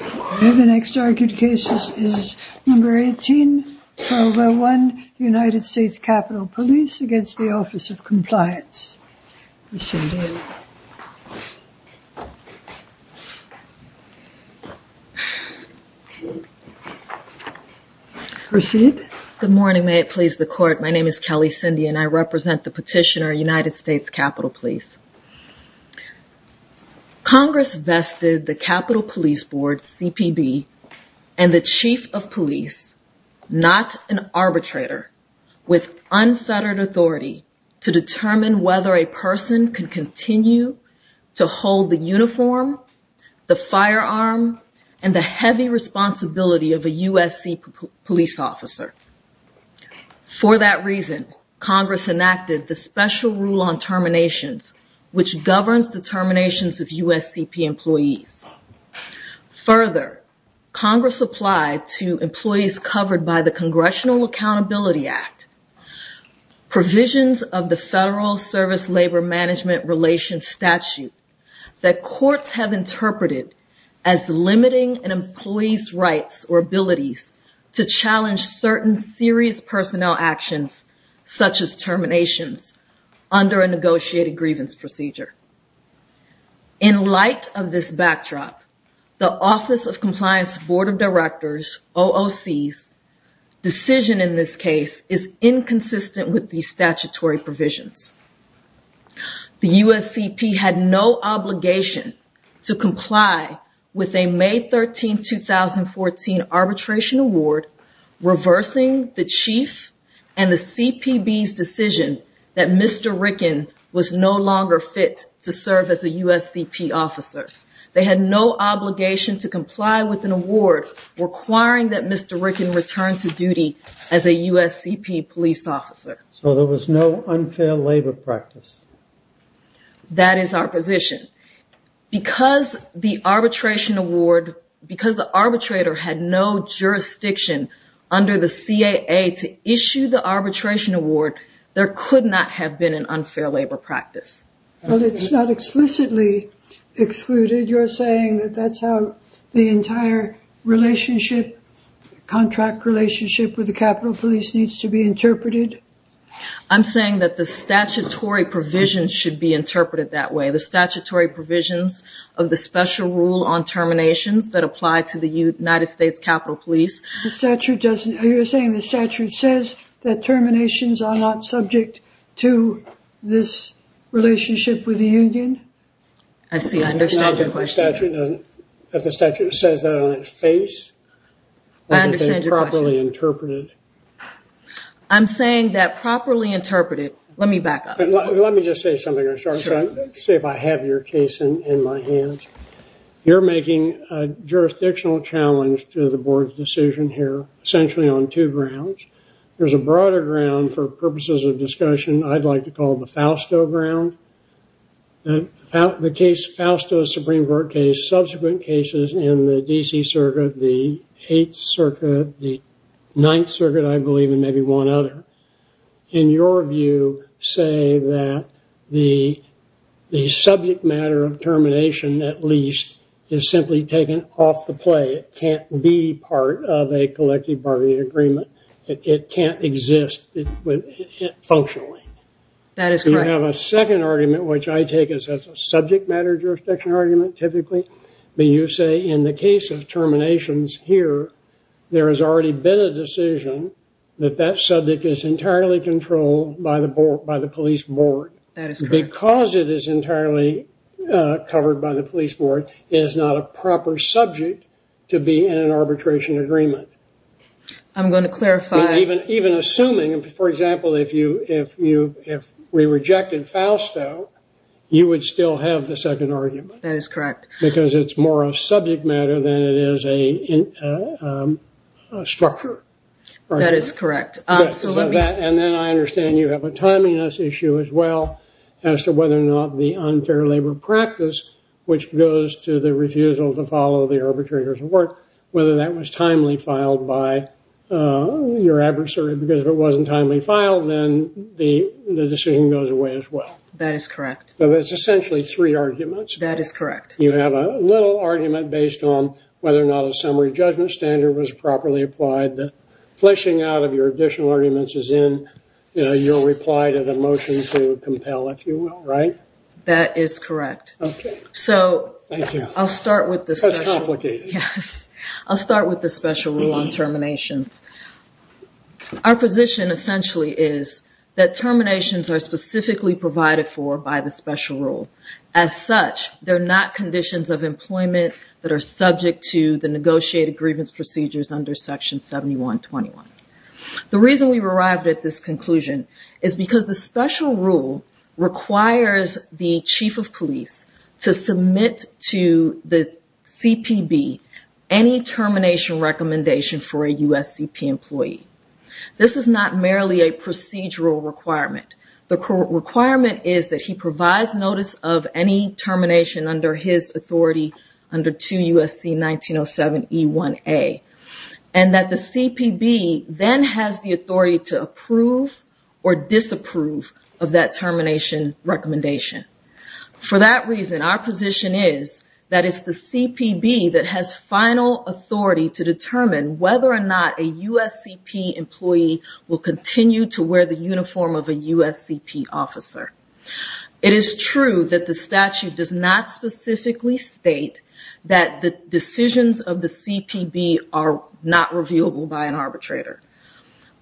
United States Capitol Police v. Office of Compliance Good morning. May it please the court. My name is Kelly Cindy and I represent the petitioner United States Capitol Police. Congress vested the Capitol Police Board CPB and the chief of police, not an arbitrator, with unfettered authority to determine whether a person can continue to hold the uniform, the firearm, and the heavy responsibility of a USC police officer. For that reason, Congress enacted the special rule on terminations, which governs of USCP employees. Further, Congress applied to employees covered by the Congressional Accountability Act provisions of the Federal Service Labor Management Relations statute that courts have interpreted as limiting an employee's rights or abilities to challenge certain serious personnel actions, such as terminations, under a negotiated grievance procedure. In light of this backdrop, the Office of Compliance Board of Directors OOC's decision in this case is inconsistent with the statutory provisions. The USCP had no obligation to comply with a May 13, 2014 arbitration award reversing the chief and the CPB's decision that Mr. Ricken was no longer fit to serve as a USCP officer. They had no obligation to comply with an award requiring that Mr. Ricken return to duty as a USCP police officer. So there was no unfair labor practice. That is our position. Because the arbitrator had no jurisdiction under the CAA to issue the arbitration award, there could not have been an unfair labor practice. But it's not explicitly excluded. You're saying that that's how the entire contract relationship with the statutory provisions should be interpreted that way? The statutory provisions of the special rule on terminations that apply to the United States Capitol Police? You're saying the statute says that terminations are not subject to this relationship with the union? I see. I understand your question. The statute says that on its face. I understand your question. I'm saying that let me just say something. Let's say if I have your case in my hands. You're making a jurisdictional challenge to the board's decision here, essentially on two grounds. There's a broader ground for purposes of discussion I'd like to call the Fausto ground. The case Fausto Supreme Court case, subsequent cases in the D.C. Circuit, the 8th Circuit, the 9th Circuit, I believe, and maybe one other. In your view, say that the subject matter of termination, at least, is simply taken off the play. It can't be part of a collective bargaining agreement. It can't exist functionally. That is correct. You have a second argument, which I take as a subject matter jurisdiction argument, typically. You say in the case of terminations here, there has already been a subject is entirely controlled by the police board. That is correct. Because it is entirely covered by the police board, it is not a proper subject to be in an arbitration agreement. I'm going to clarify. Even assuming, for example, if we rejected Fausto, you would still have the second argument. That is correct. Because it's more of subject matter than it is a structure. That is correct. And then I understand you have a timeliness issue, as well, as to whether or not the unfair labor practice, which goes to the refusal to follow the arbitrator's work, whether that was timely filed by your adversary. Because if it wasn't timely filed, then the decision goes away, as well. That is correct. But it's essentially three arguments. That is correct. You have a little argument based on whether or not a summary judgment standard was properly applied. The fleshing out of your additional arguments is in your reply to the motion to compel, if you will, right? That is correct. Okay. Thank you. I'll start with this. That's complicated. Yes. I'll start with the special rule on terminations. Our position essentially is that terminations are specifically provided for by the special rule. As such, they're not conditions of employment that are subject to the negotiated grievance procedures under section 7121. The reason we've arrived at this conclusion is because the special rule requires the chief of police to submit to the CPB any termination recommendation for a USCP employee. This is not merely a procedural requirement. The requirement is that he provides notice of any termination under his authority under 2 USC 1907E1A, and that the CPB then has the authority to approve or disapprove of that termination recommendation. For that reason, our position is that it's the CPB that has final authority to determine whether or not a USCP employee will continue to wear the uniform of a USCP officer. It is true that the statute does not specifically state that the decisions of the CPB are not reviewable by an arbitrator,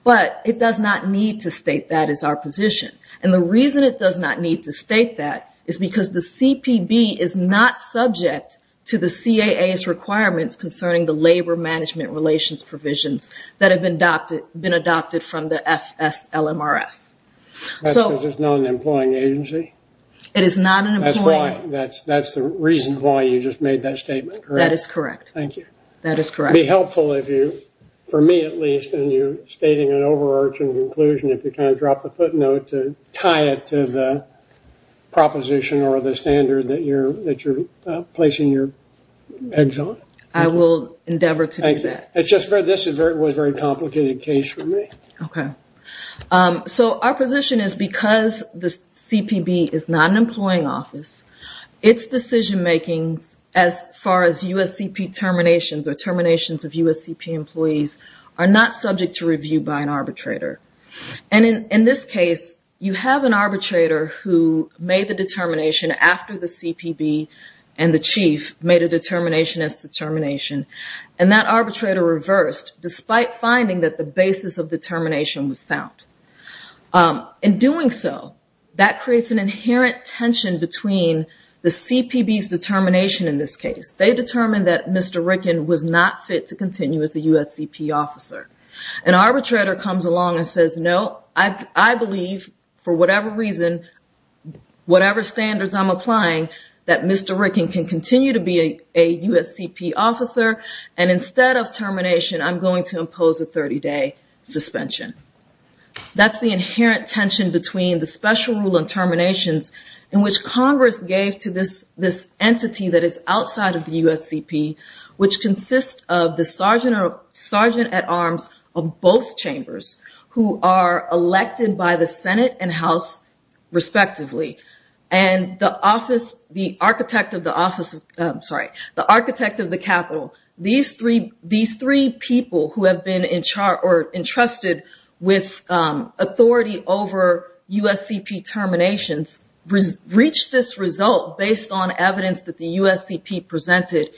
but it does not need to state that as our position. The reason it does not need to state that is because the CPB is not subject to the CAA's requirements concerning the labor management relations provisions that have been adopted from the FSLMRS. That's because it's not an employing agency? It is not an employing agency. That's the reason why you just made that statement, correct? That is correct. Thank you. That is correct. It would be helpful if you, for me at least, and you stating an overarching conclusion, if you kind of drop a footnote to tie it to the proposition or the standard that you're placing your eggs on. I will endeavor to do that. It's just that this was a very complicated case for me. Okay. So our position is because the CPB is not an employing office, its decision making as far as USCP terminations or terminations of USCP employees are not subject to review by an arbitrator. In this case, you have an arbitrator who made the determination after the CPB and the chief made a determination as to termination, and that arbitrator reversed despite finding that the basis of determination was sound. In doing so, that creates an inherent tension between the CPB's determination in this case. They determined that Mr. Ricken was not fit to continue as a USCP officer. An arbitrator comes along and says, no, I believe for whatever reason whatever standards I'm applying that Mr. Ricken can continue to be a USCP officer. And instead of termination, I'm going to impose a 30 day suspension. That's the inherent tension between the special rule and terminations in which Congress gave to this entity that is outside of the USCP, which consists of the Sergeant at Arms of both chambers who are elected by the Senate and House respectively. And the architect of the Capitol, these three people who have been entrusted with authority over USCP terminations reached this result based on evidence that the USCP presented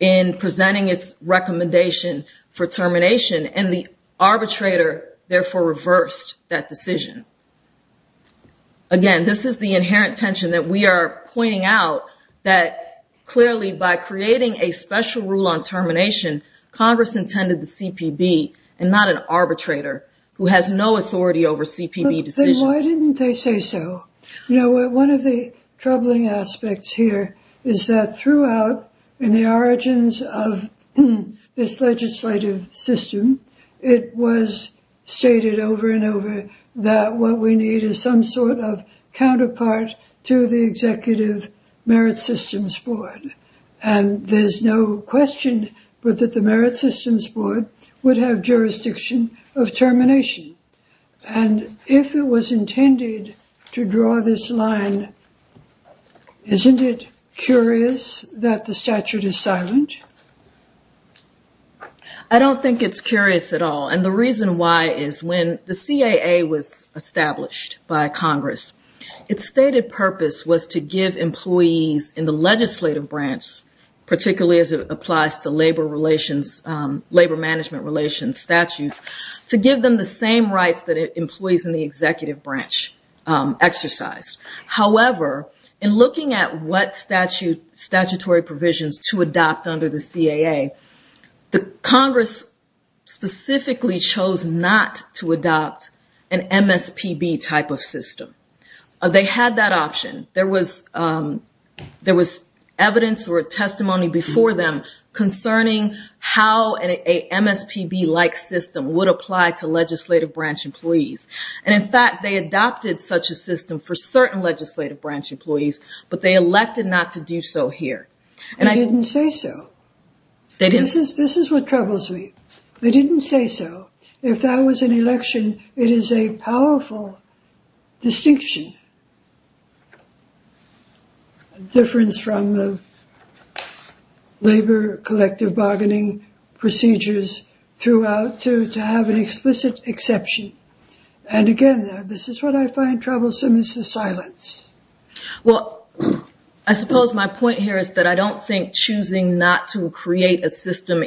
in presenting its recommendation for termination and the arbitrator therefore reversed that decision. Again, this is the inherent tension that we are pointing out that clearly by creating a special rule on termination, Congress intended the CPB and not an arbitrator who has no authority over CPB decisions. Why didn't they say so? One of the troubling aspects here is that throughout in the origins of this legislative system, it was stated over and over that what we need is some sort of counterpart to the Executive Merit Systems Board. And there's no question but that the Merit Systems Board would have jurisdiction of termination. And if it was intended to draw this line, isn't it curious that the statute is silent? I don't think it's curious at all. And the reason why is when the CAA was established by Congress, its stated purpose was to give employees in the legislative branch, particularly as it applies to labor relations, labor management relations statutes, to give them the same rights that employees in the executive branch exercise. However, in looking at what statutory provisions to adopt under the CAA, Congress specifically chose not to adopt an MSPB type of system. They had that option. There was evidence or testimony before them concerning how an MSPB like system would apply to legislative branch employees. And in fact, they adopted such a They didn't say so. This is what troubles me. They didn't say so. If that was an election, it is a powerful distinction. A difference from the labor collective bargaining procedures throughout to have an explicit exception. And again, this is what I find troublesome is the silence. Well, I suppose my point here is that I don't think choosing not to create a system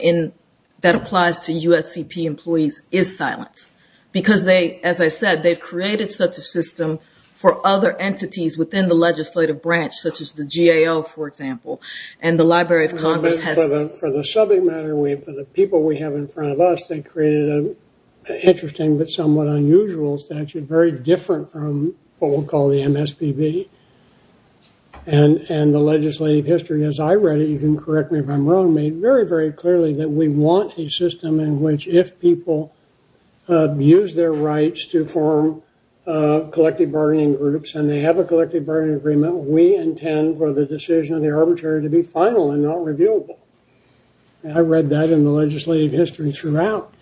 that applies to USCP employees is silent. Because they, as I said, they've created such a system for other entities within the legislative branch, such as the GAO, for example. And the Library of Congress has For the subject matter, for the people we have in front of us, they created an interesting but somewhat unusual statute, very different from what we'll call the MSPB. And the legislative history, as I read it, you can correct me if I'm wrong, made very, very clearly that we want a system in which if people use their rights to form collective bargaining groups, and they have a collective bargaining agreement, we intend for the decision of the arbitrator to be final and not reviewable. I read that in the legislative history throughout.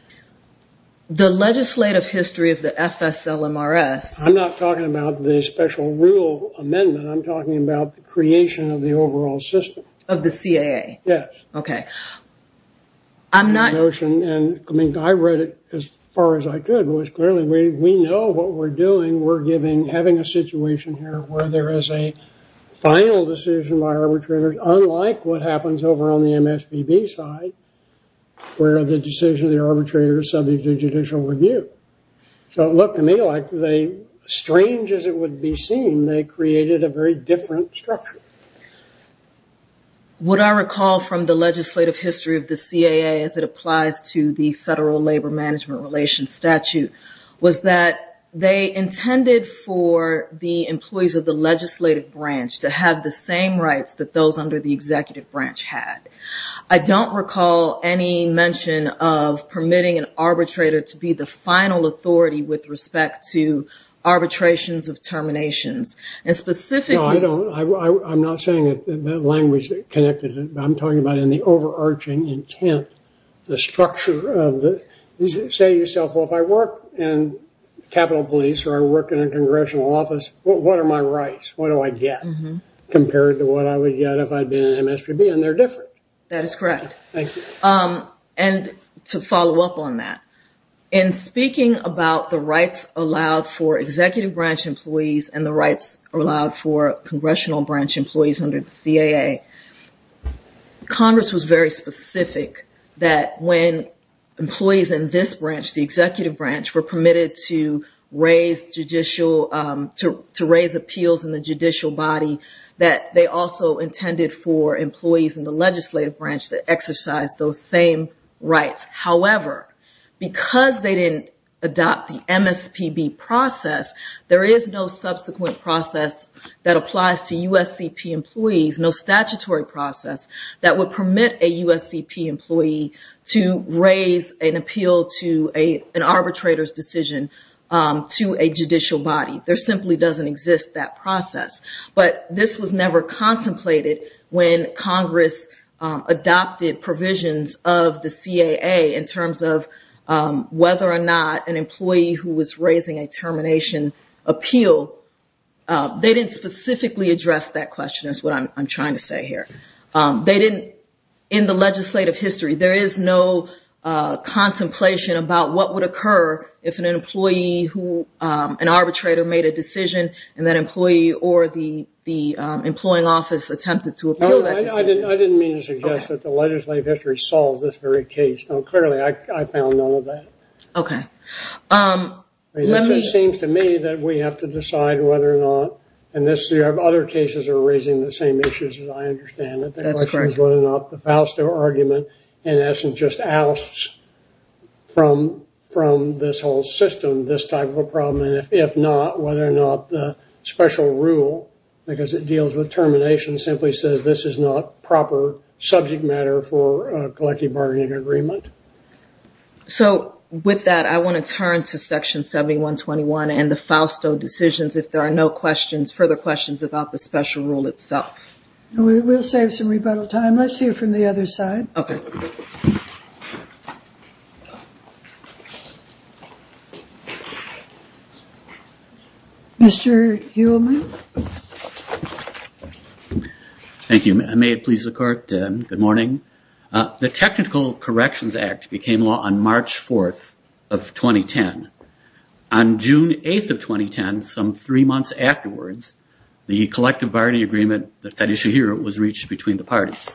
The legislative history of the FSLMRS. I'm not talking about the special rule amendment. I'm talking about the creation of the overall system. Of the CAA. Yes. Okay. I'm not. The notion, and I mean, I read it as far as I could, was clearly we know what we're doing. We're giving, having a situation here where there is a final decision by arbitrators, unlike what happens over on the MSPB side, where the decision of the arbitrator is subject to judicial review. So it looked to me like they, strange as it would be seen, they created a very different structure. What I recall from the legislative history of the CAA, as it applies to the federal labor management relations statute, was that they intended for the employees of the legislative branch to have the same rights that those under the executive branch had. I don't recall any mention of permitting an arbitrator to be the final authority with respect to arbitrations of terminations. And specifically... No, I'm not saying that language connected. I'm talking about in the overarching intent, the structure of the, say yourself, well, if I work in Capitol Police or I work in a congressional office, what are my rights? What do I get compared to what I would get if I'd been an MSPB? And they're different. That is correct. And to follow up on that, in speaking about the rights allowed for executive branch employees and the rights allowed for congressional branch employees under the CAA, Congress was very specific that when employees in this branch, the executive branch, were permitted to raise appeals in the judicial body, that they also intended for employees in the legislative branch to exercise those same rights. However, because they didn't adopt the MSPB process, there is no subsequent process that applies to USCP employees, no statutory process that would permit a USCP employee to raise an appeal to an arbitrator's decision to a judicial body. There simply doesn't exist that process. But this was never contemplated when Congress adopted provisions of the CAA in terms of they didn't specifically address that question is what I'm trying to say here. They didn't, in the legislative history, there is no contemplation about what would occur if an employee who, an arbitrator made a decision and that employee or the employing office attempted to appeal that decision. I didn't mean to suggest that the legislative history solves this very case. Clearly, I found none of that. Okay. It seems to me that we have to decide whether or not, and other cases are raising the same issues as I understand it, whether or not the Fausto argument in essence just asks from this whole system, this type of a problem, and if not, whether or not the special rule, because it deals with termination, simply says this is not proper subject matter for bargaining agreement. So with that, I want to turn to section 7121 and the Fausto decisions if there are no questions, further questions about the special rule itself. We'll save some rebuttal time. Let's hear from the other side. Okay. Mr. Heumann. Thank you. May it please the court. Good morning. The technical corrections act became law on March 4th of 2010. On June 8th of 2010, some three months afterwards, the collective bargaining agreement that's at issue here was reached between the parties.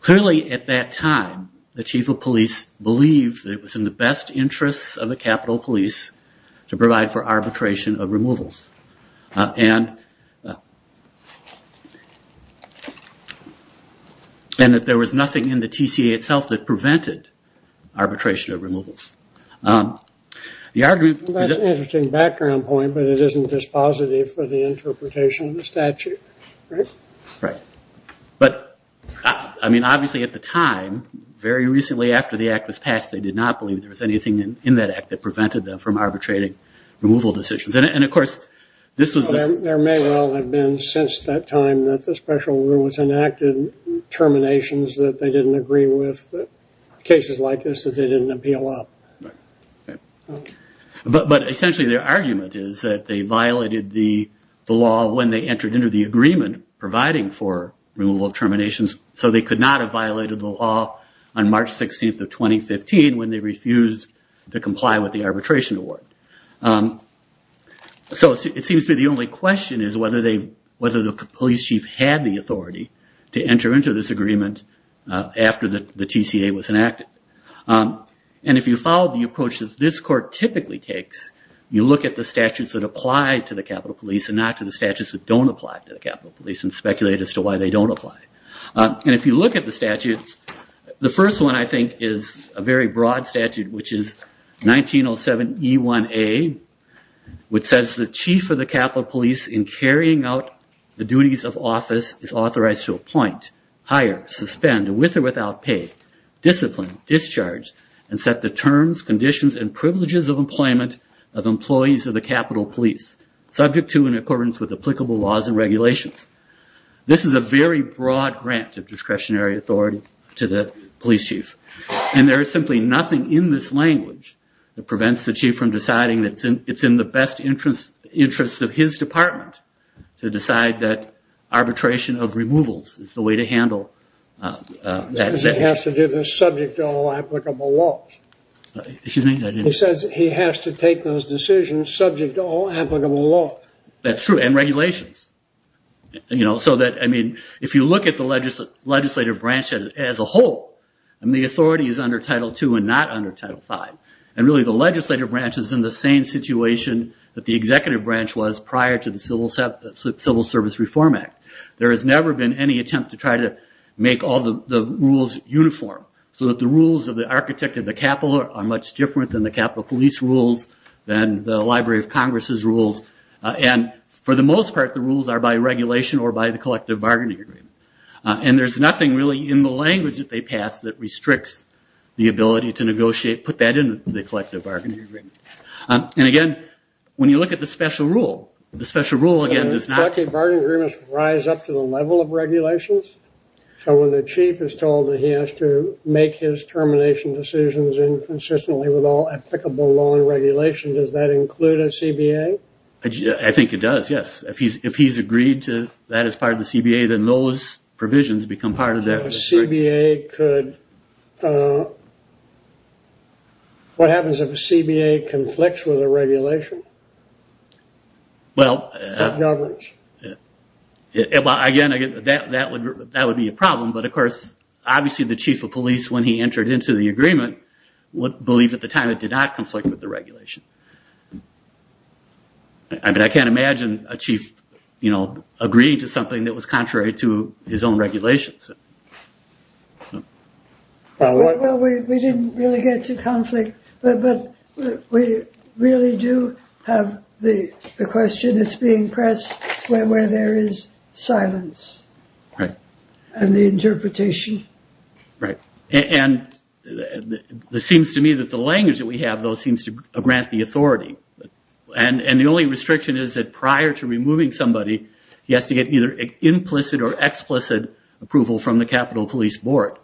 Clearly at that time, the chief of police believed that it was in the best interests of the capital police to provide for arbitration of removals. And that there was nothing in the TCA itself that prevented arbitration of removals. That's an interesting background point, but it isn't just positive for the interpretation of the statute, right? Right. But obviously at the time, very recently after the act was passed, they did not believe there was anything in that act that prevented them from arbitrating removal decisions. And of course, this was... There may well have been since that time that the special rule was enacted, terminations that they didn't agree with, cases like this that they didn't appeal up. But essentially their argument is that they violated the law when they entered into the agreement providing for removal of terminations. So they could not have passed 16th of 2015 when they refused to comply with the arbitration award. So it seems to be the only question is whether the police chief had the authority to enter into this agreement after the TCA was enacted. And if you follow the approach that this court typically takes, you look at the statutes that apply to the capital police and not to the statutes that don't apply to the capital police and speculate as to why they don't apply. And if you look at the statutes, the first one I think is a very broad statute which is 1907E1A which says the chief of the capital police in carrying out the duties of office is authorized to appoint, hire, suspend, with or without pay, discipline, discharge, and set the terms, conditions, and privileges of employment of employees of the capital police subject to applicable laws and regulations. This is a very broad grant of discretionary authority to the police chief. And there is simply nothing in this language that prevents the chief from deciding it's in the best interest of his department to decide that arbitration of removals is the way to handle that. He has to do this subject to all applicable laws. Excuse me? He says he has to take those decisions subject to all applicable laws. That's true. And regulations. If you look at the legislative branch as a whole, the authority is under Title II and not under Title V. And really the legislative branch is in the same situation that the executive branch was prior to the Civil Service Reform Act. There has never been any to try to make all the rules uniform so that the rules of the architect of the capital are much different than the capital police rules, than the Library of Congress' rules. And for the most part the rules are by regulation or by the collective bargaining agreement. And there's nothing really in the language that they pass that restricts the ability to negotiate, put that into the collective bargaining agreement. And again, when you look at the special rule, the special rule does not... The collective bargaining agreement rise up to the level of regulations? So when the chief is told that he has to make his termination decisions and consistently with all applicable law and regulation, does that include a CBA? I think it does, yes. If he's agreed to that as part of the CBA, then those provisions become part of that. So a CBA could... What happens if a CBA conflicts with a regulation? Well... Again, that would be a problem. But of course, obviously the chief of police, when he entered into the agreement, would believe at the time it did not conflict with the regulation. I mean, I can't imagine a chief agreeing to something that was contrary to his own regulations. Well, we didn't really get to conflict, but we really do have the question that's being pressed where there is silence and the interpretation. Right. And it seems to me that the language that we have, though, seems to grant the authority. And the only restriction is that to removing somebody, he has to get either implicit or explicit approval from the Capitol Police Board.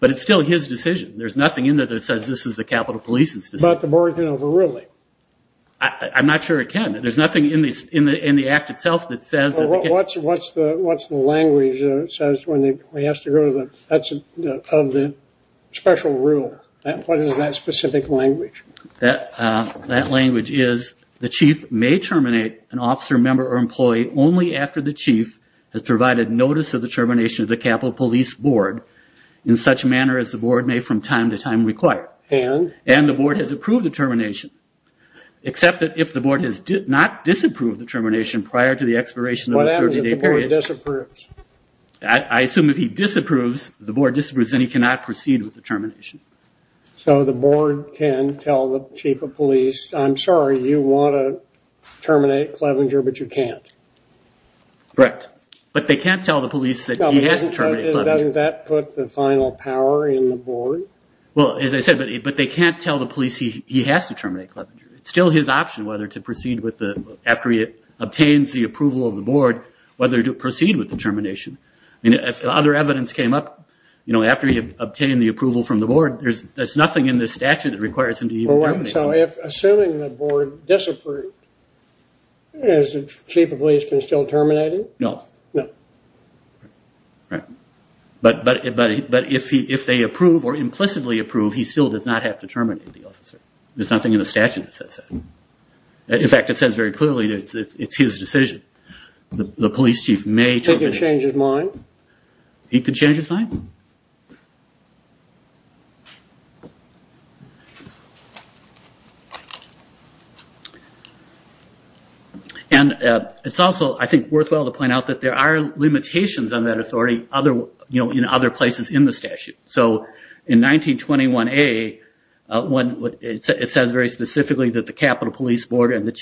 But it's still his decision. There's nothing in there that says this is the Capitol Police's decision. But the board can overrule it? I'm not sure it can. There's nothing in the act itself that says... What's the language that says when he has to go to the... That's of the special rule. What is that specific language? That language is the chief may terminate an officer, member, or employee only after the chief has provided notice of the termination of the Capitol Police Board in such manner as the board may from time to time require. And? And the board has approved the termination, except that if the board has not disapproved the termination prior to the expiration of the 30-day period... What happens if the board disapproves? I assume if he disapproves, the board disapproves, then he cannot proceed with the termination. So the board can tell the chief of police, I'm sorry, you want to terminate Clevenger, but you can't? Correct. But they can't tell the police that he has to terminate Clevenger. Doesn't that put the final power in the board? Well, as I said, but they can't tell the police he has to terminate Clevenger. It's still his option whether to proceed with the... After he obtains the approval of the board, whether to proceed with the termination. If other evidence came up after he obtained the approval from the board, there's nothing in the statute that requires him to even terminate Clevenger. Assuming the board disapproved, is the chief of police can still terminate him? No. No. Right. But if they approve or implicitly approve, he still does not have to terminate the officer. There's nothing in the statute that says that. In fact, it says very clearly it's his decision. The police chief may... He can change his mind? He can change his mind. And it's also, I think, worthwhile to point out that there are limitations on that authority in other places in the statute. So in 1921A, it says very specifically that the Capital Police Board and the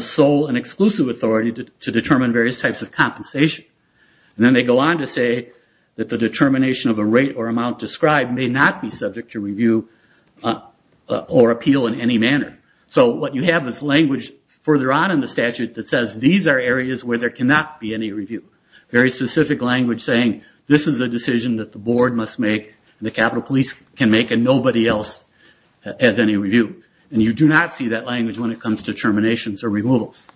sole and exclusive authority to determine various types of compensation. And then they go on to say that the determination of a rate or amount described may not be subject to review or appeal in any manner. So what you have is language further on in the statute that says these are areas where there cannot be any review. Very specific language saying this is a decision that the board must make, the Capital Police can make, and nobody else has any review. And you do not see that language when it comes to terminations or removals.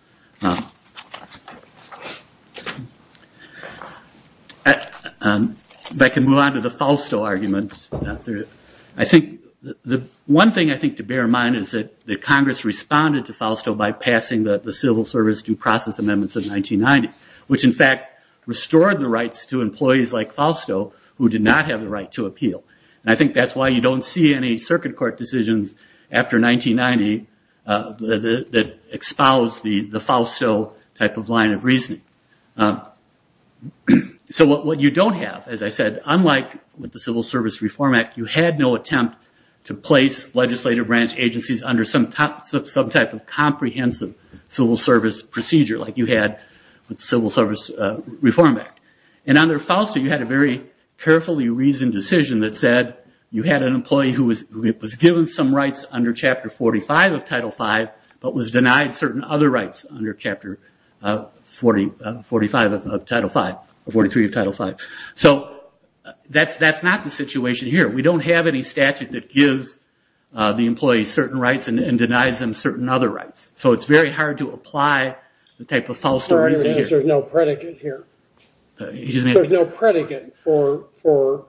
If I can move on to the Fausto arguments. I think the one thing I think to bear in mind is that Congress responded to Fausto by passing the Civil Service due process amendments of 1990, which in fact restored the rights to employees like Fausto who did not have the right to appeal. And I think that's why you don't see any circuit court decisions after 1990 that expose the Fausto type of line of reasoning. So what you don't have, as I said, unlike with the Civil Service Reform Act, you had no attempt to place legislative branch agencies under some type of comprehensive Civil Service procedure like you had with the Civil Service Reform Act. And under Fausto, you had a very carefully reasoned decision that said you had an employee who was given some rights under Chapter 45 of Title V, but was denied certain other rights under Chapter 43 of Title V. So that's not the situation here. We don't have any statute that gives the employee certain rights and denies them certain other rights. So it's very hard to apply the type of Fausto reasoning here. There's no predicate here. There's no predicate for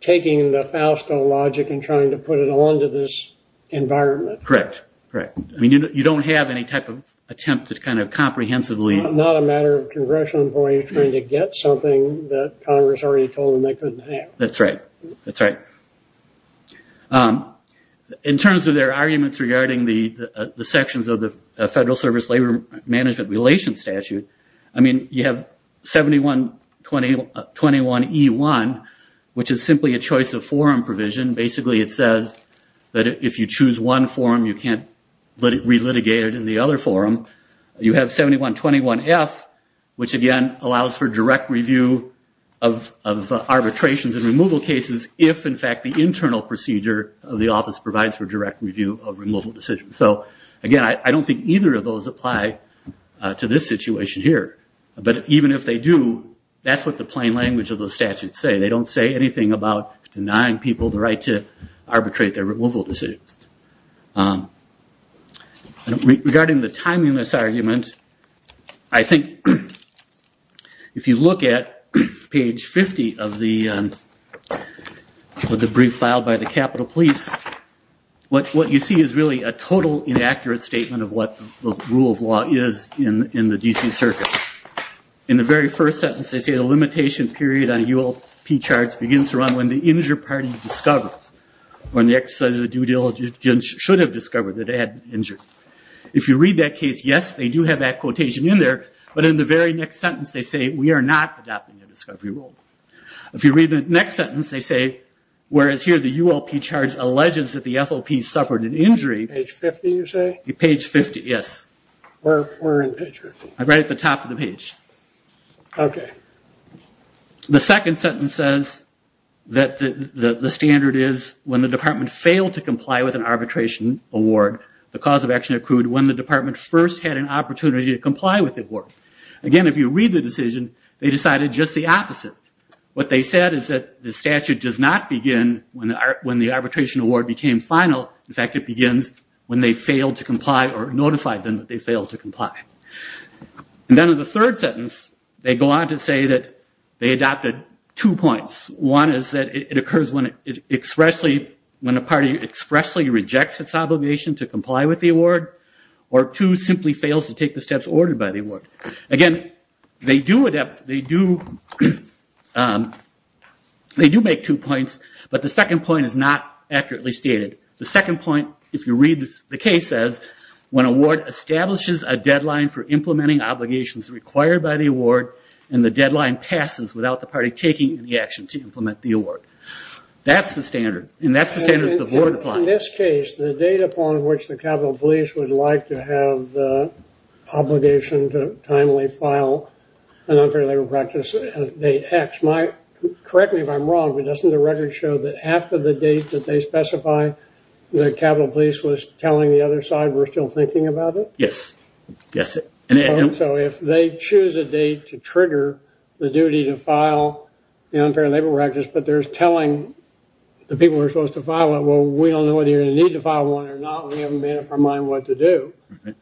taking the Fausto logic and trying to put it onto this environment. Correct. Correct. I mean, you don't have any type of attempt to kind of comprehensively... Not a matter of congressional employees trying to get something that Congress already told them they couldn't have. That's right. That's right. In terms of their arguments regarding the sections of the Federal Service Labor Management Relations Statute, I mean, you have 7121E1, which is simply a choice of forum provision. Basically, it says that if you choose one forum, you can't re-litigate it in the other forum. You have 7121F, which again, allows for direct review of arbitrations and of the office provides for direct review of removal decisions. So again, I don't think either of those apply to this situation here. But even if they do, that's what the plain language of those statutes say. They don't say anything about denying people the right to arbitrate their removal decisions. Regarding the timeliness argument, I think if you look at page 50 of the brief filed by the Capitol Police, what you see is really a total inaccurate statement of what the rule of law is in the D.C. Circuit. In the very first sentence, they say the limitation period on ULP charts begins around when the injured party discovers, when the exercise of the due diligence should have discovered that they had been injured. If you read that case, yes, they do have that quotation in there. But in the very next sentence, they say, we are not adopting the discovery rule. If you read the next sentence, they say, whereas here the ULP chart alleges that the FOP suffered an injury. Page 50, you say? Page 50, yes. Where in page 50? Right at the top of the page. Okay. The second sentence says that the standard is when the department failed to comply with an arbitration award, the cause of action accrued when the department first had an opportunity to comply with the award. Again, if you read the decision, they decided just the opposite. What they said is that the statute does not begin when the arbitration award became final. In fact, it begins when they failed to comply or notified them that they failed to comply. Then in the third sentence, they go on to say that they adopted two points. One is that it occurs when a party expressly rejects its obligation to comply with the award, or two, simply fails to take the steps ordered by the award. Again, they do make two points, but the second point is not accurately stated. The second point, if you read the case, says when a ward establishes a deadline for implementing obligations required by the award, and the deadline passes without the party taking any action to implement the award. That's the standard, and that's the standard that the board applies. In this case, the date upon which the Capitol Police would like to have the obligation to timely file an unfair labor practice is date X. Correct me if I'm wrong, but doesn't the record show that after the date that they specify, the Capitol Police was telling the other side, we're still thinking about it? Yes. Yes. So, if they choose a date to trigger the duty to file the unfair labor practice, but they're going to need to file one or not, we haven't made up our mind what to do.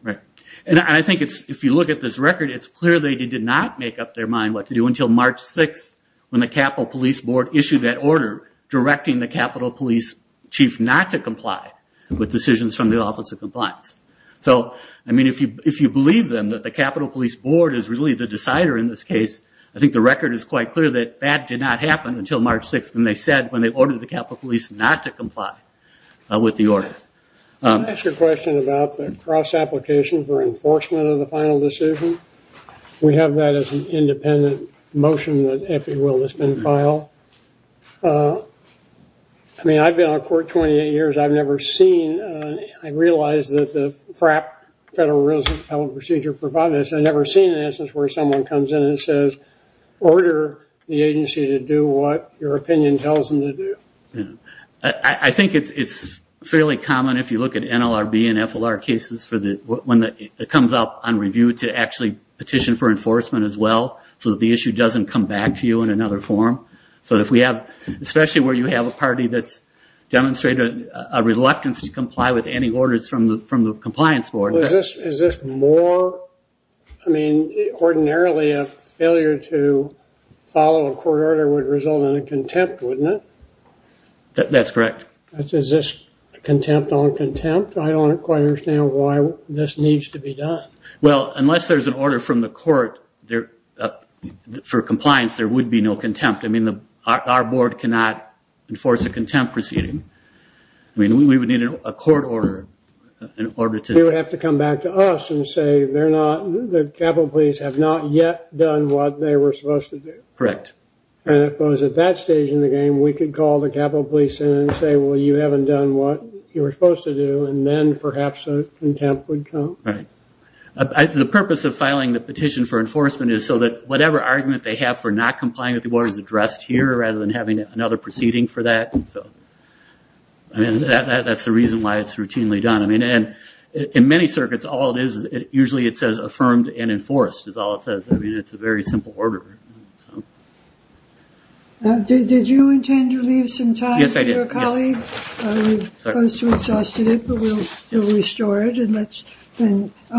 Right. I think if you look at this record, it's clear they did not make up their mind what to do until March 6th, when the Capitol Police Board issued that order directing the Capitol Police Chief not to comply with decisions from the Office of Compliance. So, I mean, if you believe them that the Capitol Police Board is really the decider in this case, I think the record is quite clear that that did not happen until March 6th, when they said, when they ordered the Capitol Police not to comply with the order. Can I ask a question about the cross-application for enforcement of the final decision? We have that as an independent motion that, if you will, has been filed. I mean, I've been on court 28 years. I've never seen, I realize that the FRAP, Federal Real Estate Appellate Procedure, provided this. I've never seen an instance where someone comes in and says, order the agency to do what your opinion tells them to do. I think it's fairly common, if you look at NLRB and FLR cases, when it comes up on review to actually petition for enforcement as well, so that the issue doesn't come back to you in another form. So if we have, especially where you have a party that's demonstrated a reluctance to comply with any orders from the compliance board. Is this more, I mean, ordinarily a failure to follow a court order would result in a contempt, wouldn't it? That's correct. Is this contempt on contempt? I don't quite understand why this needs to be done. Well, unless there's an order from the court for compliance, there would be no contempt. I mean, our board cannot enforce a contempt proceeding. I mean, we would need a court order in order to... You would have to come back to us and say, they're not, the Capitol Police have not yet done what they were supposed to do. Correct. And if it was at that stage in the game, we could call the Capitol Police in and say, well, you haven't done what you were supposed to do, and then perhaps a contempt would come. Right. The purpose of filing the petition for enforcement is so that whatever argument they have for not complying with the orders addressed here, rather than having another proceeding for that. So, I mean, that's the reason why it's routinely done. I mean, and in many circuits, usually it says affirmed and enforced is all it says. I mean, it's a very simple order. Did you intend to leave some time for your colleague? Yes, I did. Yes. We're close to exhausted it, but we'll still restore it.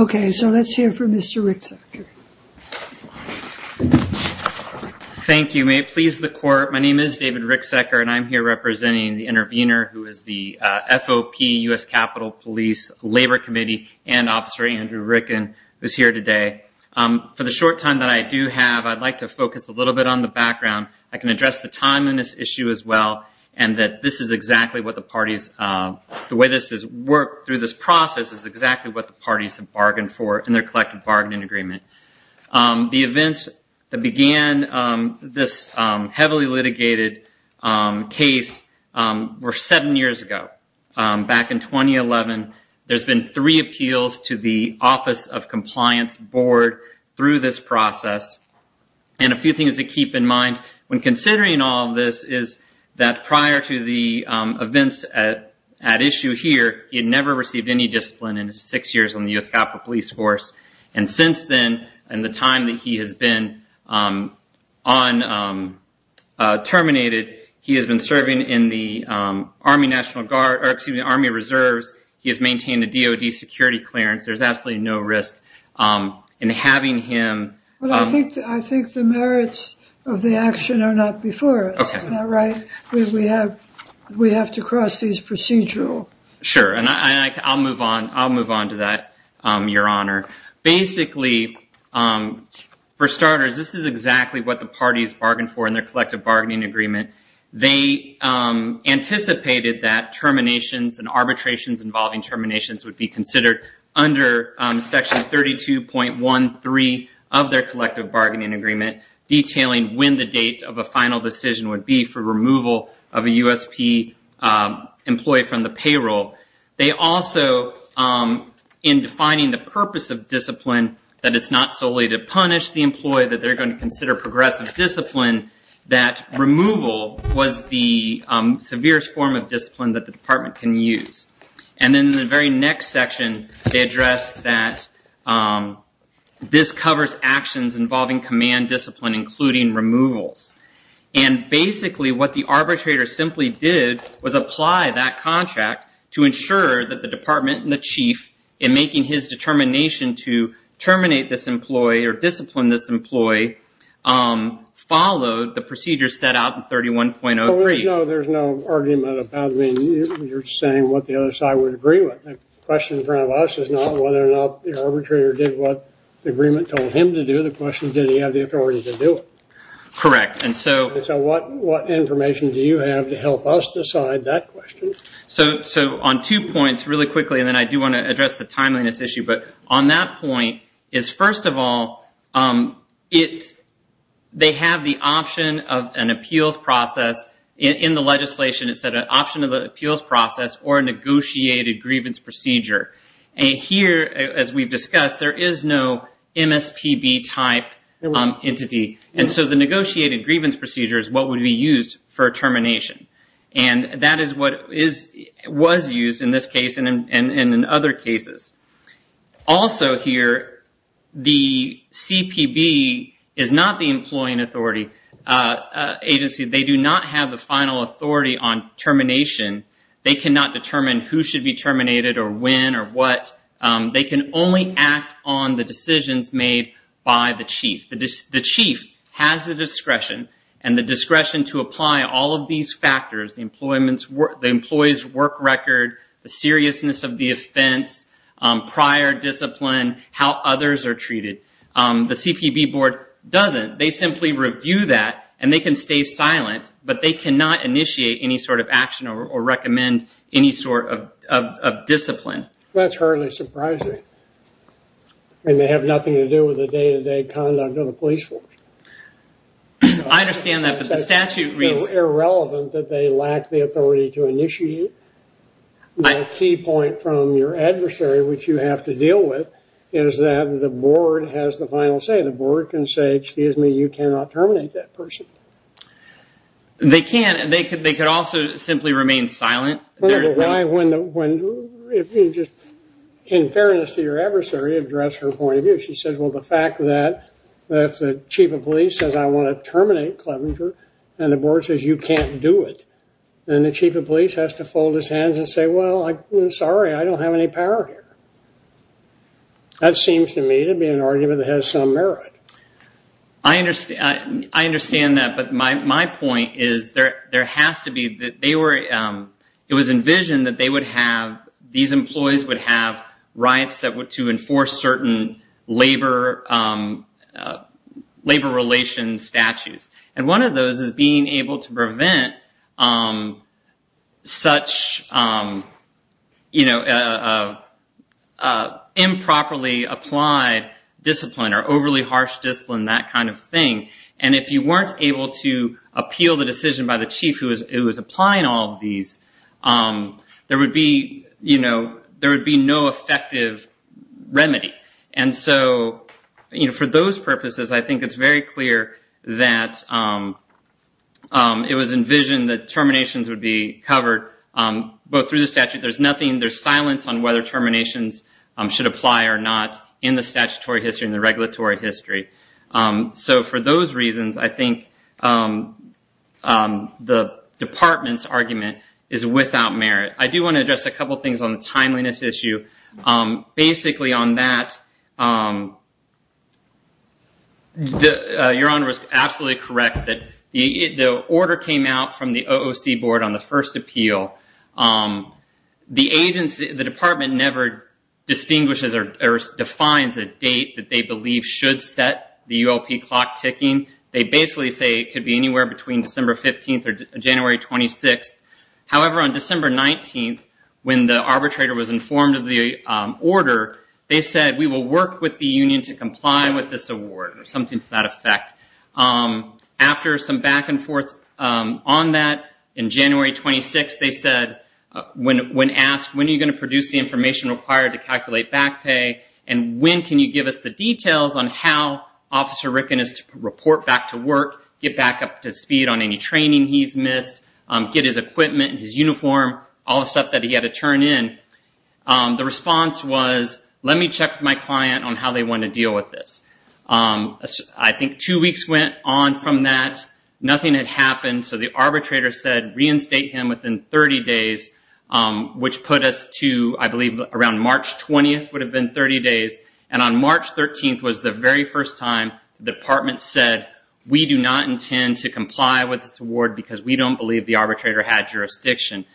Okay, so let's hear from Mr. Ricksecker. Thank you. May it please the court. My name is David Ricksecker, and I'm here representing the Andrew Ricken, who's here today. For the short time that I do have, I'd like to focus a little bit on the background. I can address the time in this issue as well, and that this is exactly what the parties, the way this has worked through this process is exactly what the parties have bargained for in their collective bargaining agreement. The events that began this heavily litigated case were seven years ago. Back in 2011, there's been three appeals to the Office of Compliance Board through this process, and a few things to keep in mind when considering all of this is that prior to the events at issue here, he had never received any discipline in his six years in the U.S. Capitol Police Force. Since then, in the time that he has been terminated, he has been serving in the Army National Guard, excuse me, Army Reserves. He has maintained a DOD security clearance. There's absolutely no risk in having him- I think the merits of the action are not before us. Okay. Isn't that right? We have to cross these procedural. Sure. I'll move on to that, Your Honor. Basically, for starters, this is exactly what the parties bargained for in their collective bargaining agreement. They anticipated that terminations and arbitrations involving terminations would be considered under section 32.13 of their collective bargaining agreement, detailing when the date of a final decision would be for removal of a USP employee from the payroll. They also, in defining the purpose of discipline, that it's not solely to punish the employee, that they're going to consider progressive discipline, that removal was the severest form of discipline that the department can use. In the very next section, they address that this covers actions involving command discipline, including removals. Basically, what the arbitrator simply did was apply that contract to ensure that the department and the chief, in making his determination to terminate this employee or discipline this employee, followed the procedure set out in 31.03. No, there's no argument about it. You're saying what the other side would agree with. The question in front of us is not whether or not the arbitrator did what the agreement told him to do. The question is, did he have the authority to do it? Correct. What information do you have to help us decide that question? On two points, really quickly, and then I do want to address the timeliness issue, but on that point is, first of all, they have the option of an appeals process. In the legislation, it said an option of the appeals process or a negotiated grievance procedure. Here, as we've discussed, there is no MSPB type entity. The negotiated grievance procedure is what would be used for termination. That is what was used in this case and in other cases. Also here, the CPB is not the employing authority agency. They do not have the final authority on it. They can only act on the decisions made by the chief. The chief has the discretion and the discretion to apply all of these factors, the employee's work record, the seriousness of the offense, prior discipline, how others are treated. The CPB board doesn't. They simply review that and they can stay silent, but they cannot initiate any sort of action or recommend any sort of discipline. That's hardly surprising. They have nothing to do with the day-to-day conduct of the police force. I understand that, but the statute reads... It's irrelevant that they lack the authority to initiate. The key point from your adversary, which you have to deal with, is that the board has the final say. The board can say, excuse me, you cannot terminate that person. They can. They could also simply remain silent. In fairness to your adversary, address her point of view. She says, well, the fact that if the chief of police says I want to terminate Clevenger and the board says you can't do it, then the chief of police has to fold his hands and say, well, sorry, I don't have any power here. That seems to me to be an argument that has some merit. I understand that, but my point is it was envisioned that these employees would have rights to enforce certain labor relations statutes. One of those is being able to prevent such improperly applied discipline or overly harsh discipline, that kind of thing. If you weren't able to appeal the decision by the chief who was applying all of these, there would be no effective remedy. For those purposes, I think it's very clear that it was envisioned that terminations would be covered, but through the statute, there's nothing. There's silence on whether terminations should apply or not in the statutory history and the regulatory history. For those reasons, I think the department's argument is without merit. I do want to address a couple of things on the timeliness issue. Basically, on that, your honor is absolutely correct. The order came out from the OOC board on the first appeal. The department never distinguishes or defines a date that they believe should set the ULP clock ticking. They basically say it could be anywhere between December 15th or January 26th. However, on December 19th, when the arbitrator was informed of the order, they said, we will work with the union to comply with this award or something to that effect. After some back and forth on that, in January 26th, they said, when asked, when are you going to produce the information required to calculate back pay, and when can you the details on how Officer Rickon is to report back to work, get back up to speed on any training he's missed, get his equipment, his uniform, all the stuff that he had to turn in. The response was, let me check with my client on how they want to deal with this. I think two weeks went on from that. Nothing had happened. The arbitrator said, reinstate him within 30 days, which put us to, I believe, around March 20th would have been 30 days. On March 13th was the very first time the department said, we do not intend to comply with this award because we don't believe the arbitrator had jurisdiction.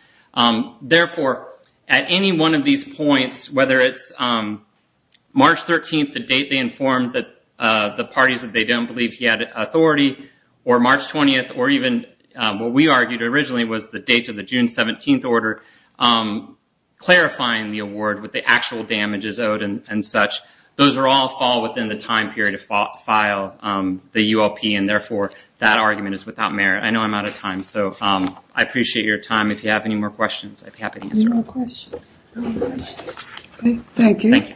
Therefore, at any one of these points, whether it's March 13th, the date they informed the parties that they don't believe he had authority, or March 20th, or even what we argued originally was the June 17th order, clarifying the award with the actual damages owed and such, those all fall within the time period to file the ULP, and therefore, that argument is without merit. I know I'm out of time, so I appreciate your time. If you have any more questions, I'd be happy to answer them. Any more questions? Thank you. Thank you. Thank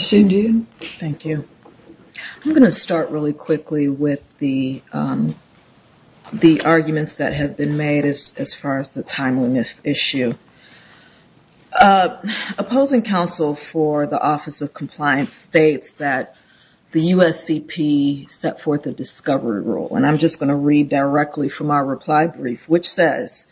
you. I'm going to start really quickly with the arguments that have been made as far as the timeliness issue. Opposing counsel for the Office of Compliance states that the USCP set forth a discovery rule. I'm just going to read directly from our reply brief, which says,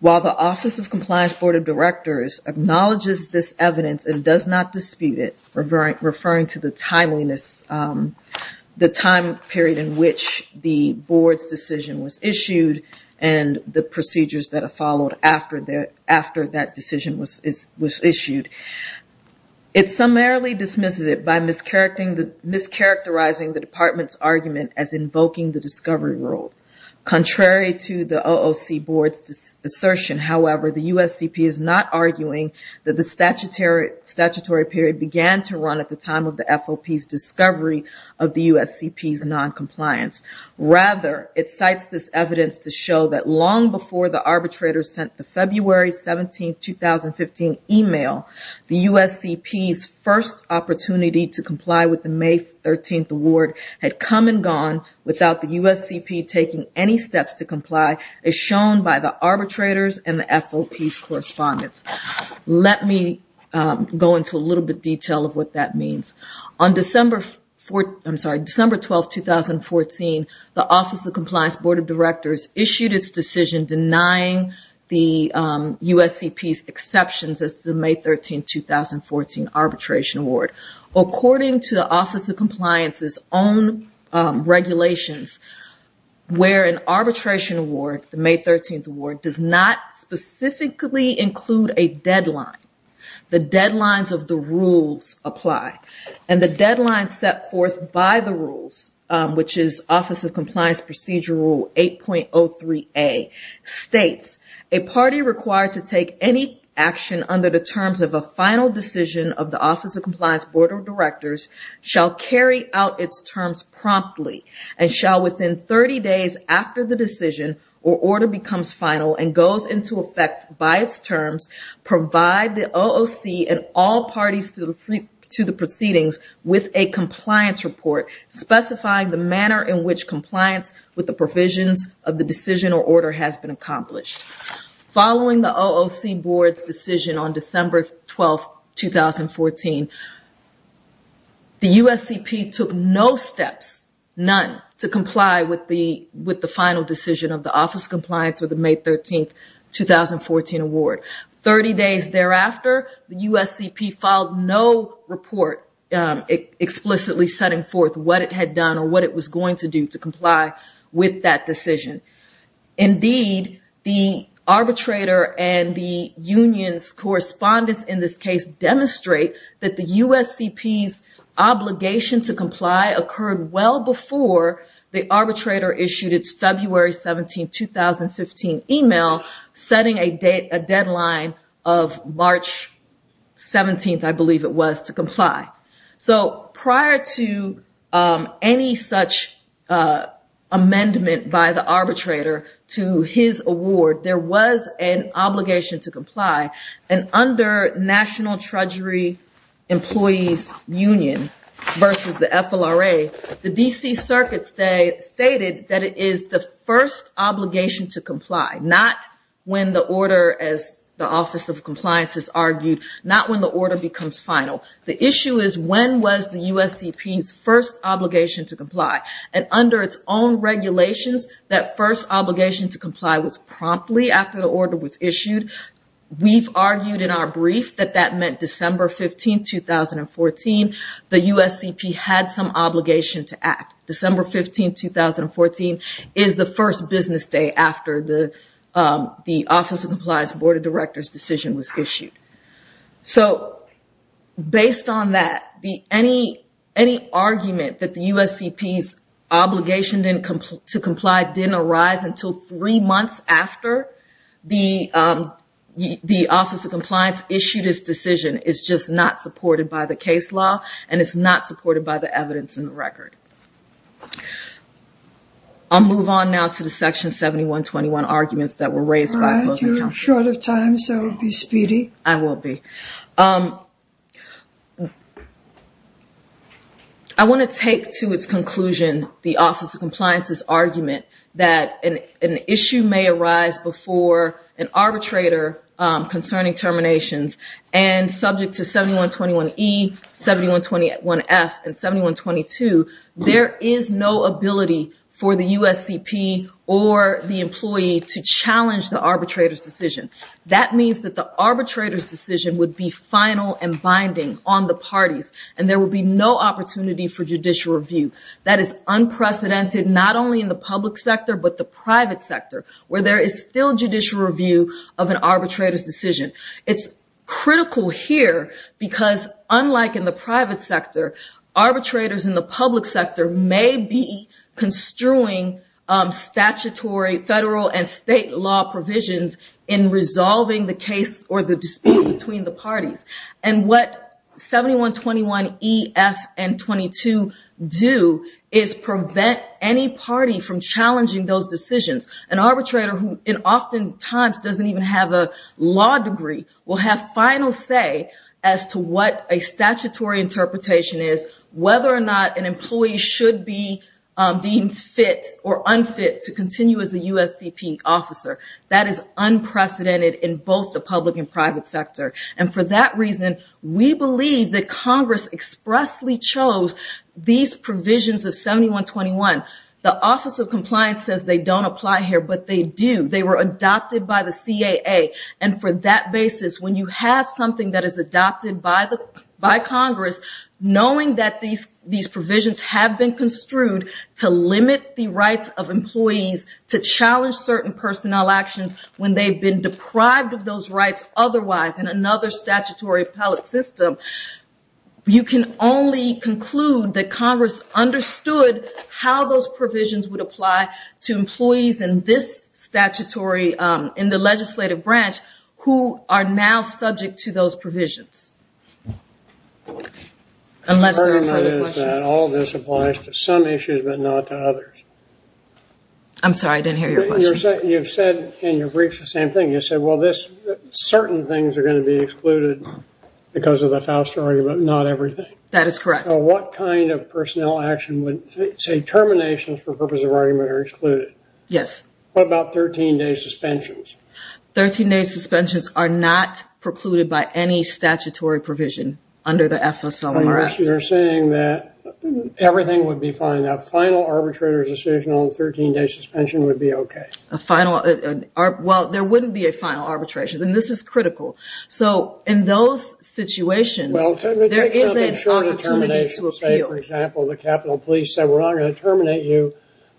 while the Office of Compliance Board of Directors acknowledges this evidence and does not dispute it, referring to the timeliness, the time period in which the board's decision was issued and the procedures that are followed after that decision was issued. It summarily dismisses by mischaracterizing the department's argument as invoking the discovery rule. Contrary to the OOC board's assertion, however, the USCP is not arguing that the statutory period began to run at the time of the FOP's discovery of the USCP's noncompliance. Rather, it cites this evidence to show that long before the arbitrator sent the February 17th, 2015 email, the USCP's first opportunity to comply with the May 13th award had come and gone without the USCP taking any steps to comply as shown by the arbitrators and the FOP's correspondence. Let me go into a little bit of detail of what that means. On December 12, 2014, the Office of Compliance Board of Directors issued its decision denying the USCP's exceptions as to May 13, 2014 arbitration award. According to the Office of Compliance's own regulations, where an arbitration award, the May 13th award, does not specifically include a deadline. The deadlines of the rules apply. The deadline set forth by the rules, which is Office of Decision of the Office of Compliance Board of Directors, shall carry out its terms promptly and shall within 30 days after the decision or order becomes final and goes into effect by its terms, provide the OOC and all parties to the proceedings with a compliance report specifying the manner in which compliance with the provisions of the decision or order has been accomplished. Following the OOC board's decision on December 12, 2014, the USCP took no steps, none, to comply with the final decision of the Office of Compliance with the May 13, 2014 award. 30 days thereafter, the USCP filed no report explicitly setting forth what it had done or what it was going to do to comply with that decision. Indeed, the arbitrator and the union's correspondence in this case demonstrate that the USCP's obligation to comply occurred well before the arbitrator issued its February 17, 2015 email setting a deadline of March 17, I believe it was, to comply. Prior to any such amendment by the arbitrator to his award, there was an obligation to comply. Under National Treasury Employees Union versus the FLRA, the DC Circuit stated that it is the first obligation to comply, not when the order, as the Office of Compliance has argued, not when the order becomes final. The issue is when was the USCP's first obligation to comply, and under its own regulations, that first obligation to comply was promptly after the order was issued. We've argued in our brief that that meant December 15, 2014. The USCP had some obligation to act. December 15, 2014 is the first business day after the Office of Compliance Board Director's decision was issued. Based on that, any argument that the USCP's obligation to comply didn't arise until three months after the Office of Compliance issued its decision is just not supported by the case law, and it's not supported by the evidence in the record. I'll move on now to the Section 7121 arguments that were raised by Closing Counsel. I'm short of time, so I'll be speedy. I will be. I want to take to its conclusion the Office of Compliance's argument that an issue may arise before an arbitrator concerning terminations, and subject to 7121E, 7121F, and 7122, there is no ability for the USCP or the employee to challenge the arbitrator's decision. That means that the arbitrator's decision would be final and binding on the parties, and there would be no opportunity for judicial review. That is unprecedented, not only in the public sector, but the private sector, where there is still judicial review of an arbitrator's decision. It's critical here because, unlike in the private sector, arbitrators in the public sector may be construing statutory, federal, and state law provisions in resolving the case or the dispute between the parties. What 7121E, F, and 7122 do is prevent any party from challenging those decisions. An arbitrator who oftentimes doesn't even have a law degree will have final say as to what a statutory interpretation is, whether or not an employee should be deemed fit or unfit to continue as a USCP officer. That is unprecedented in both the public and private sector. For that reason, we believe that Congress expressly chose these provisions of 7121. The Office of Compliance says they don't apply here, but they do. They were adopted by the CAA. For that basis, when you have something that is adopted by Congress, knowing that these provisions have been construed to limit the rights of employees, to challenge certain personnel actions when they've been deprived of those rights otherwise in another statutory appellate system, you can only conclude that Congress understood how those provisions would apply to employees in this statutory, in the legislative branch, who are now subject to those provisions. Unless there are further questions. All of this applies to some issues, but not to others. I'm sorry, I didn't hear your question. You've said in your brief the same thing. You said, certain things are going to be excluded because of the Foust argument, but not everything. That is correct. What kind of personnel action, say terminations for the purpose of argument, are excluded? Yes. What about 13-day suspensions? 13-day suspensions are not precluded by any statutory provision under the FSOMRS. You're saying that everything would be fine. A final arbitrator's decision on 13-day suspension would be okay. There wouldn't be a final arbitration, and this is critical. In those situations, there isn't an opportunity to appeal. For example, the Capitol Police said, we're not going to terminate you,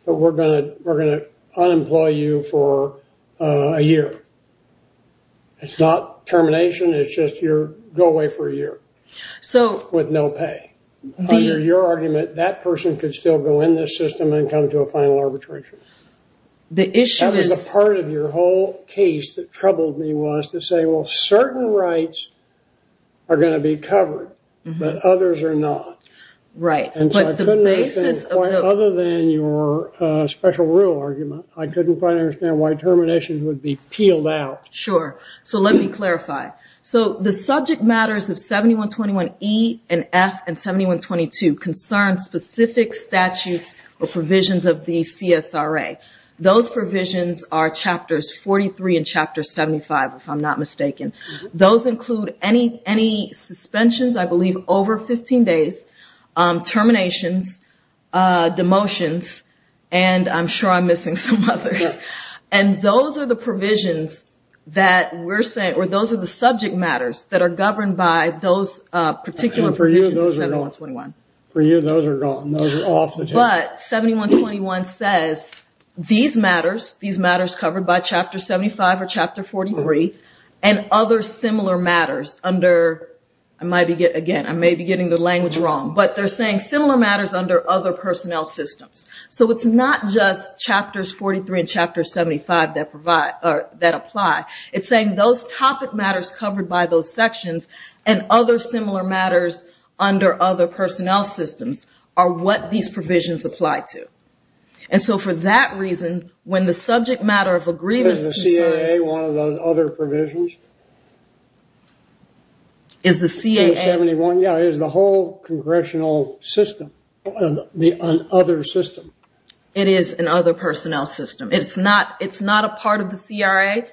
but we're going to unemploy you for a year. It's not termination, it's just you go away for a year with no pay. Under your argument, that person could still go in this system and come to a final arbitration. The issue is- That was the part of your whole case that troubled me, was to say, well, certain rights are going to be covered, but others are not. Right, but the basis of the- Other than your special rule argument, I couldn't quite understand why terminations would be peeled out. Sure. Let me clarify. The subject matters of 7121E and F and 7122 concern specific statutes or provisions of the CSRA. Those provisions are chapters 43 and chapter 75, if I'm not mistaken. Those include any suspensions, I believe, over 15 days, terminations, demotions, and I'm sure I'm missing some others. Those are the provisions that we're saying, or those are the subject matters that are governed by those particular provisions of 7121. For you, those are gone. Those are off the table. But 7121 says these matters, these matters covered by chapter 75 or chapter 43, and other similar matters under, I might be getting the language wrong, but they're saying similar matters under other personnel systems. It's not just chapters 43 and chapter 75 that apply. It's saying those topic matters covered by those sections and other similar matters under other personnel systems are what these provisions apply to. And so for that reason, when the subject matter of agreement... Is the CAA one of those other provisions? Is the CAA... 7121, yeah, is the whole congressional system an other system? It is an other personnel system. It's not a part of the CRA.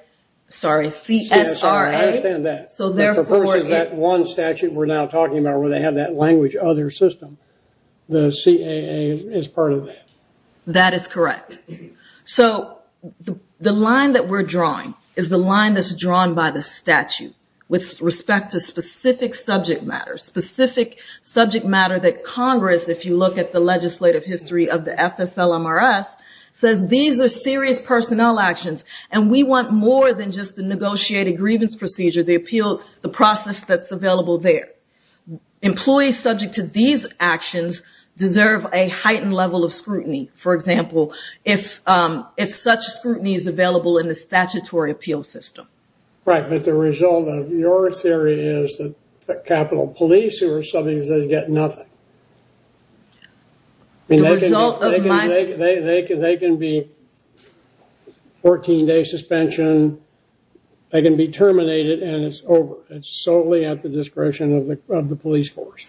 Sorry, CSRA. I understand that. Of course, it's that one statute we're now talking about where they have that language other system. The CAA is part of that. That is correct. So the line that we're drawing is the line that's drawn by the statute with respect to specific subject matters, specific subject matter that Congress, if you look at the legislative history of the FFLMRS, says these are serious personnel actions, and we want more than just the negotiated grievance procedure, the appeal, the process that's available there. Employees subject to these actions deserve a heightened level of scrutiny. For example, if such scrutiny is available in the statutory appeal system. Right, but the result of your theory is that Capitol Police who are subpoenas get nothing. Yeah, the result of my... They can be 14-day suspension. They can be terminated, and it's over. It's solely at the discretion of the police force.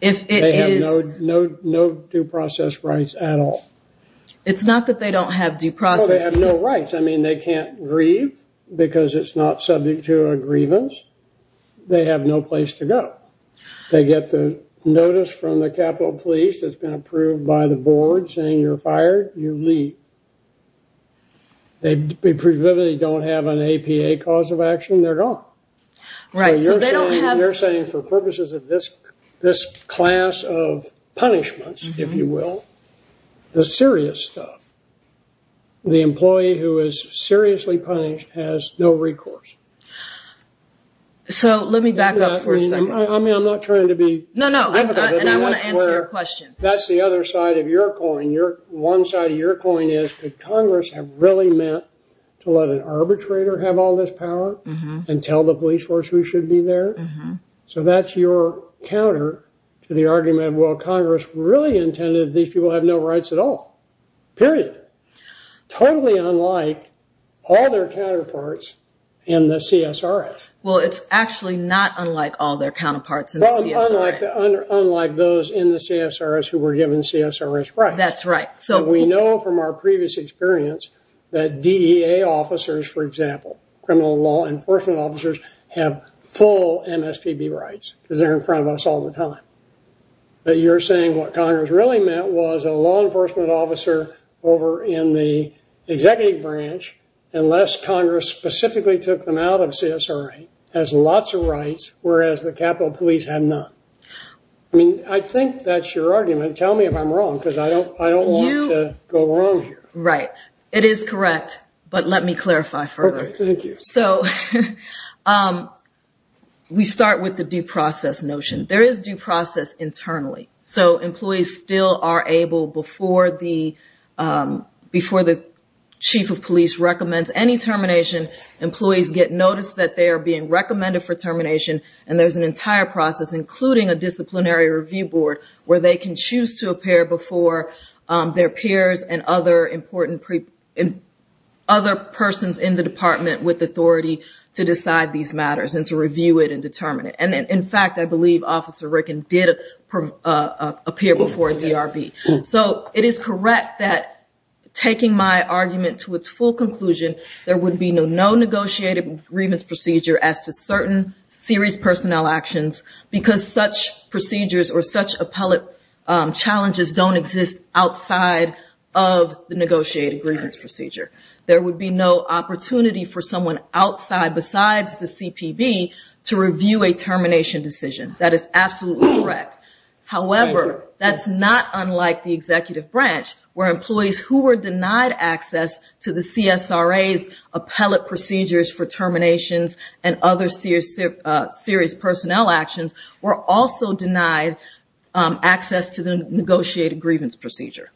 If it is... They have no due process rights at all. It's not that they don't have due process... They have no rights. I mean, they can't grieve because it's not subject to a grievance. They have no place to go. They get the notice from the Capitol Police that's been approved by the board saying, you're fired, you leave. They don't have an APA cause of action, they're gone. Right, so they don't have... You're saying for purposes of this class of punishments, if you will, the serious stuff. The employee who is seriously punished has no recourse. So let me back up for a second. I'm not trying to be... No, no, and I want to answer your question. That's the other side of your coin. One side of your coin is, could Congress have really meant to let an arbitrator have all this power and tell the police force who should be there? So that's your counter to the argument, well, Congress really intended these people have no rights at all, period. Totally unlike all their counterparts in the CSRS. Well, it's actually not unlike all their counterparts in the CSRS. Unlike those in the CSRS who were given CSRS rights. That's right. So we know from our previous experience that DEA officers, for example, criminal law enforcement officers have full MSPB rights because they're in front of us all the time. But you're saying what Congress really meant was a law enforcement officer over in the executive branch, unless Congress specifically took them out of CSRA, has lots of rights, whereas the Capitol Police have none. I mean, I think that's your argument. Tell me if I'm wrong, because I don't want to go wrong here. Right. It is correct. But let me clarify further. Okay, thank you. So we start with the due process notion. There is due process internally. So employees still are able before the chief of police recommends any termination, employees get noticed that they are being recommended for termination. And there's an entire process, including a disciplinary review board, where they can choose to appear before their peers and other important persons in the department with authority to decide these matters and to review it and determine it. In fact, I believe Officer Ricken did appear before DRB. So it is correct that taking my argument to its full conclusion, there would be no negotiated grievance procedure as to certain serious personnel actions, because such procedures or such appellate challenges don't exist outside of the negotiated grievance procedure. There would be no opportunity for someone outside, besides the CPB, to review a termination decision. That is absolutely correct. However, that's not unlike the executive branch, where employees who were denied access to the CSRA's appellate procedures for terminations and other serious personnel actions were also denied access to the negotiated grievance procedure.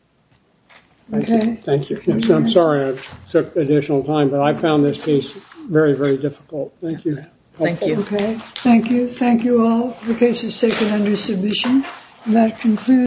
Okay. Thank you. I'm sorry I took additional time, but I found this case very, very difficult. Thank you. Thank you. Okay. Thank you. Thank you all. The case is taken under submission. That concludes.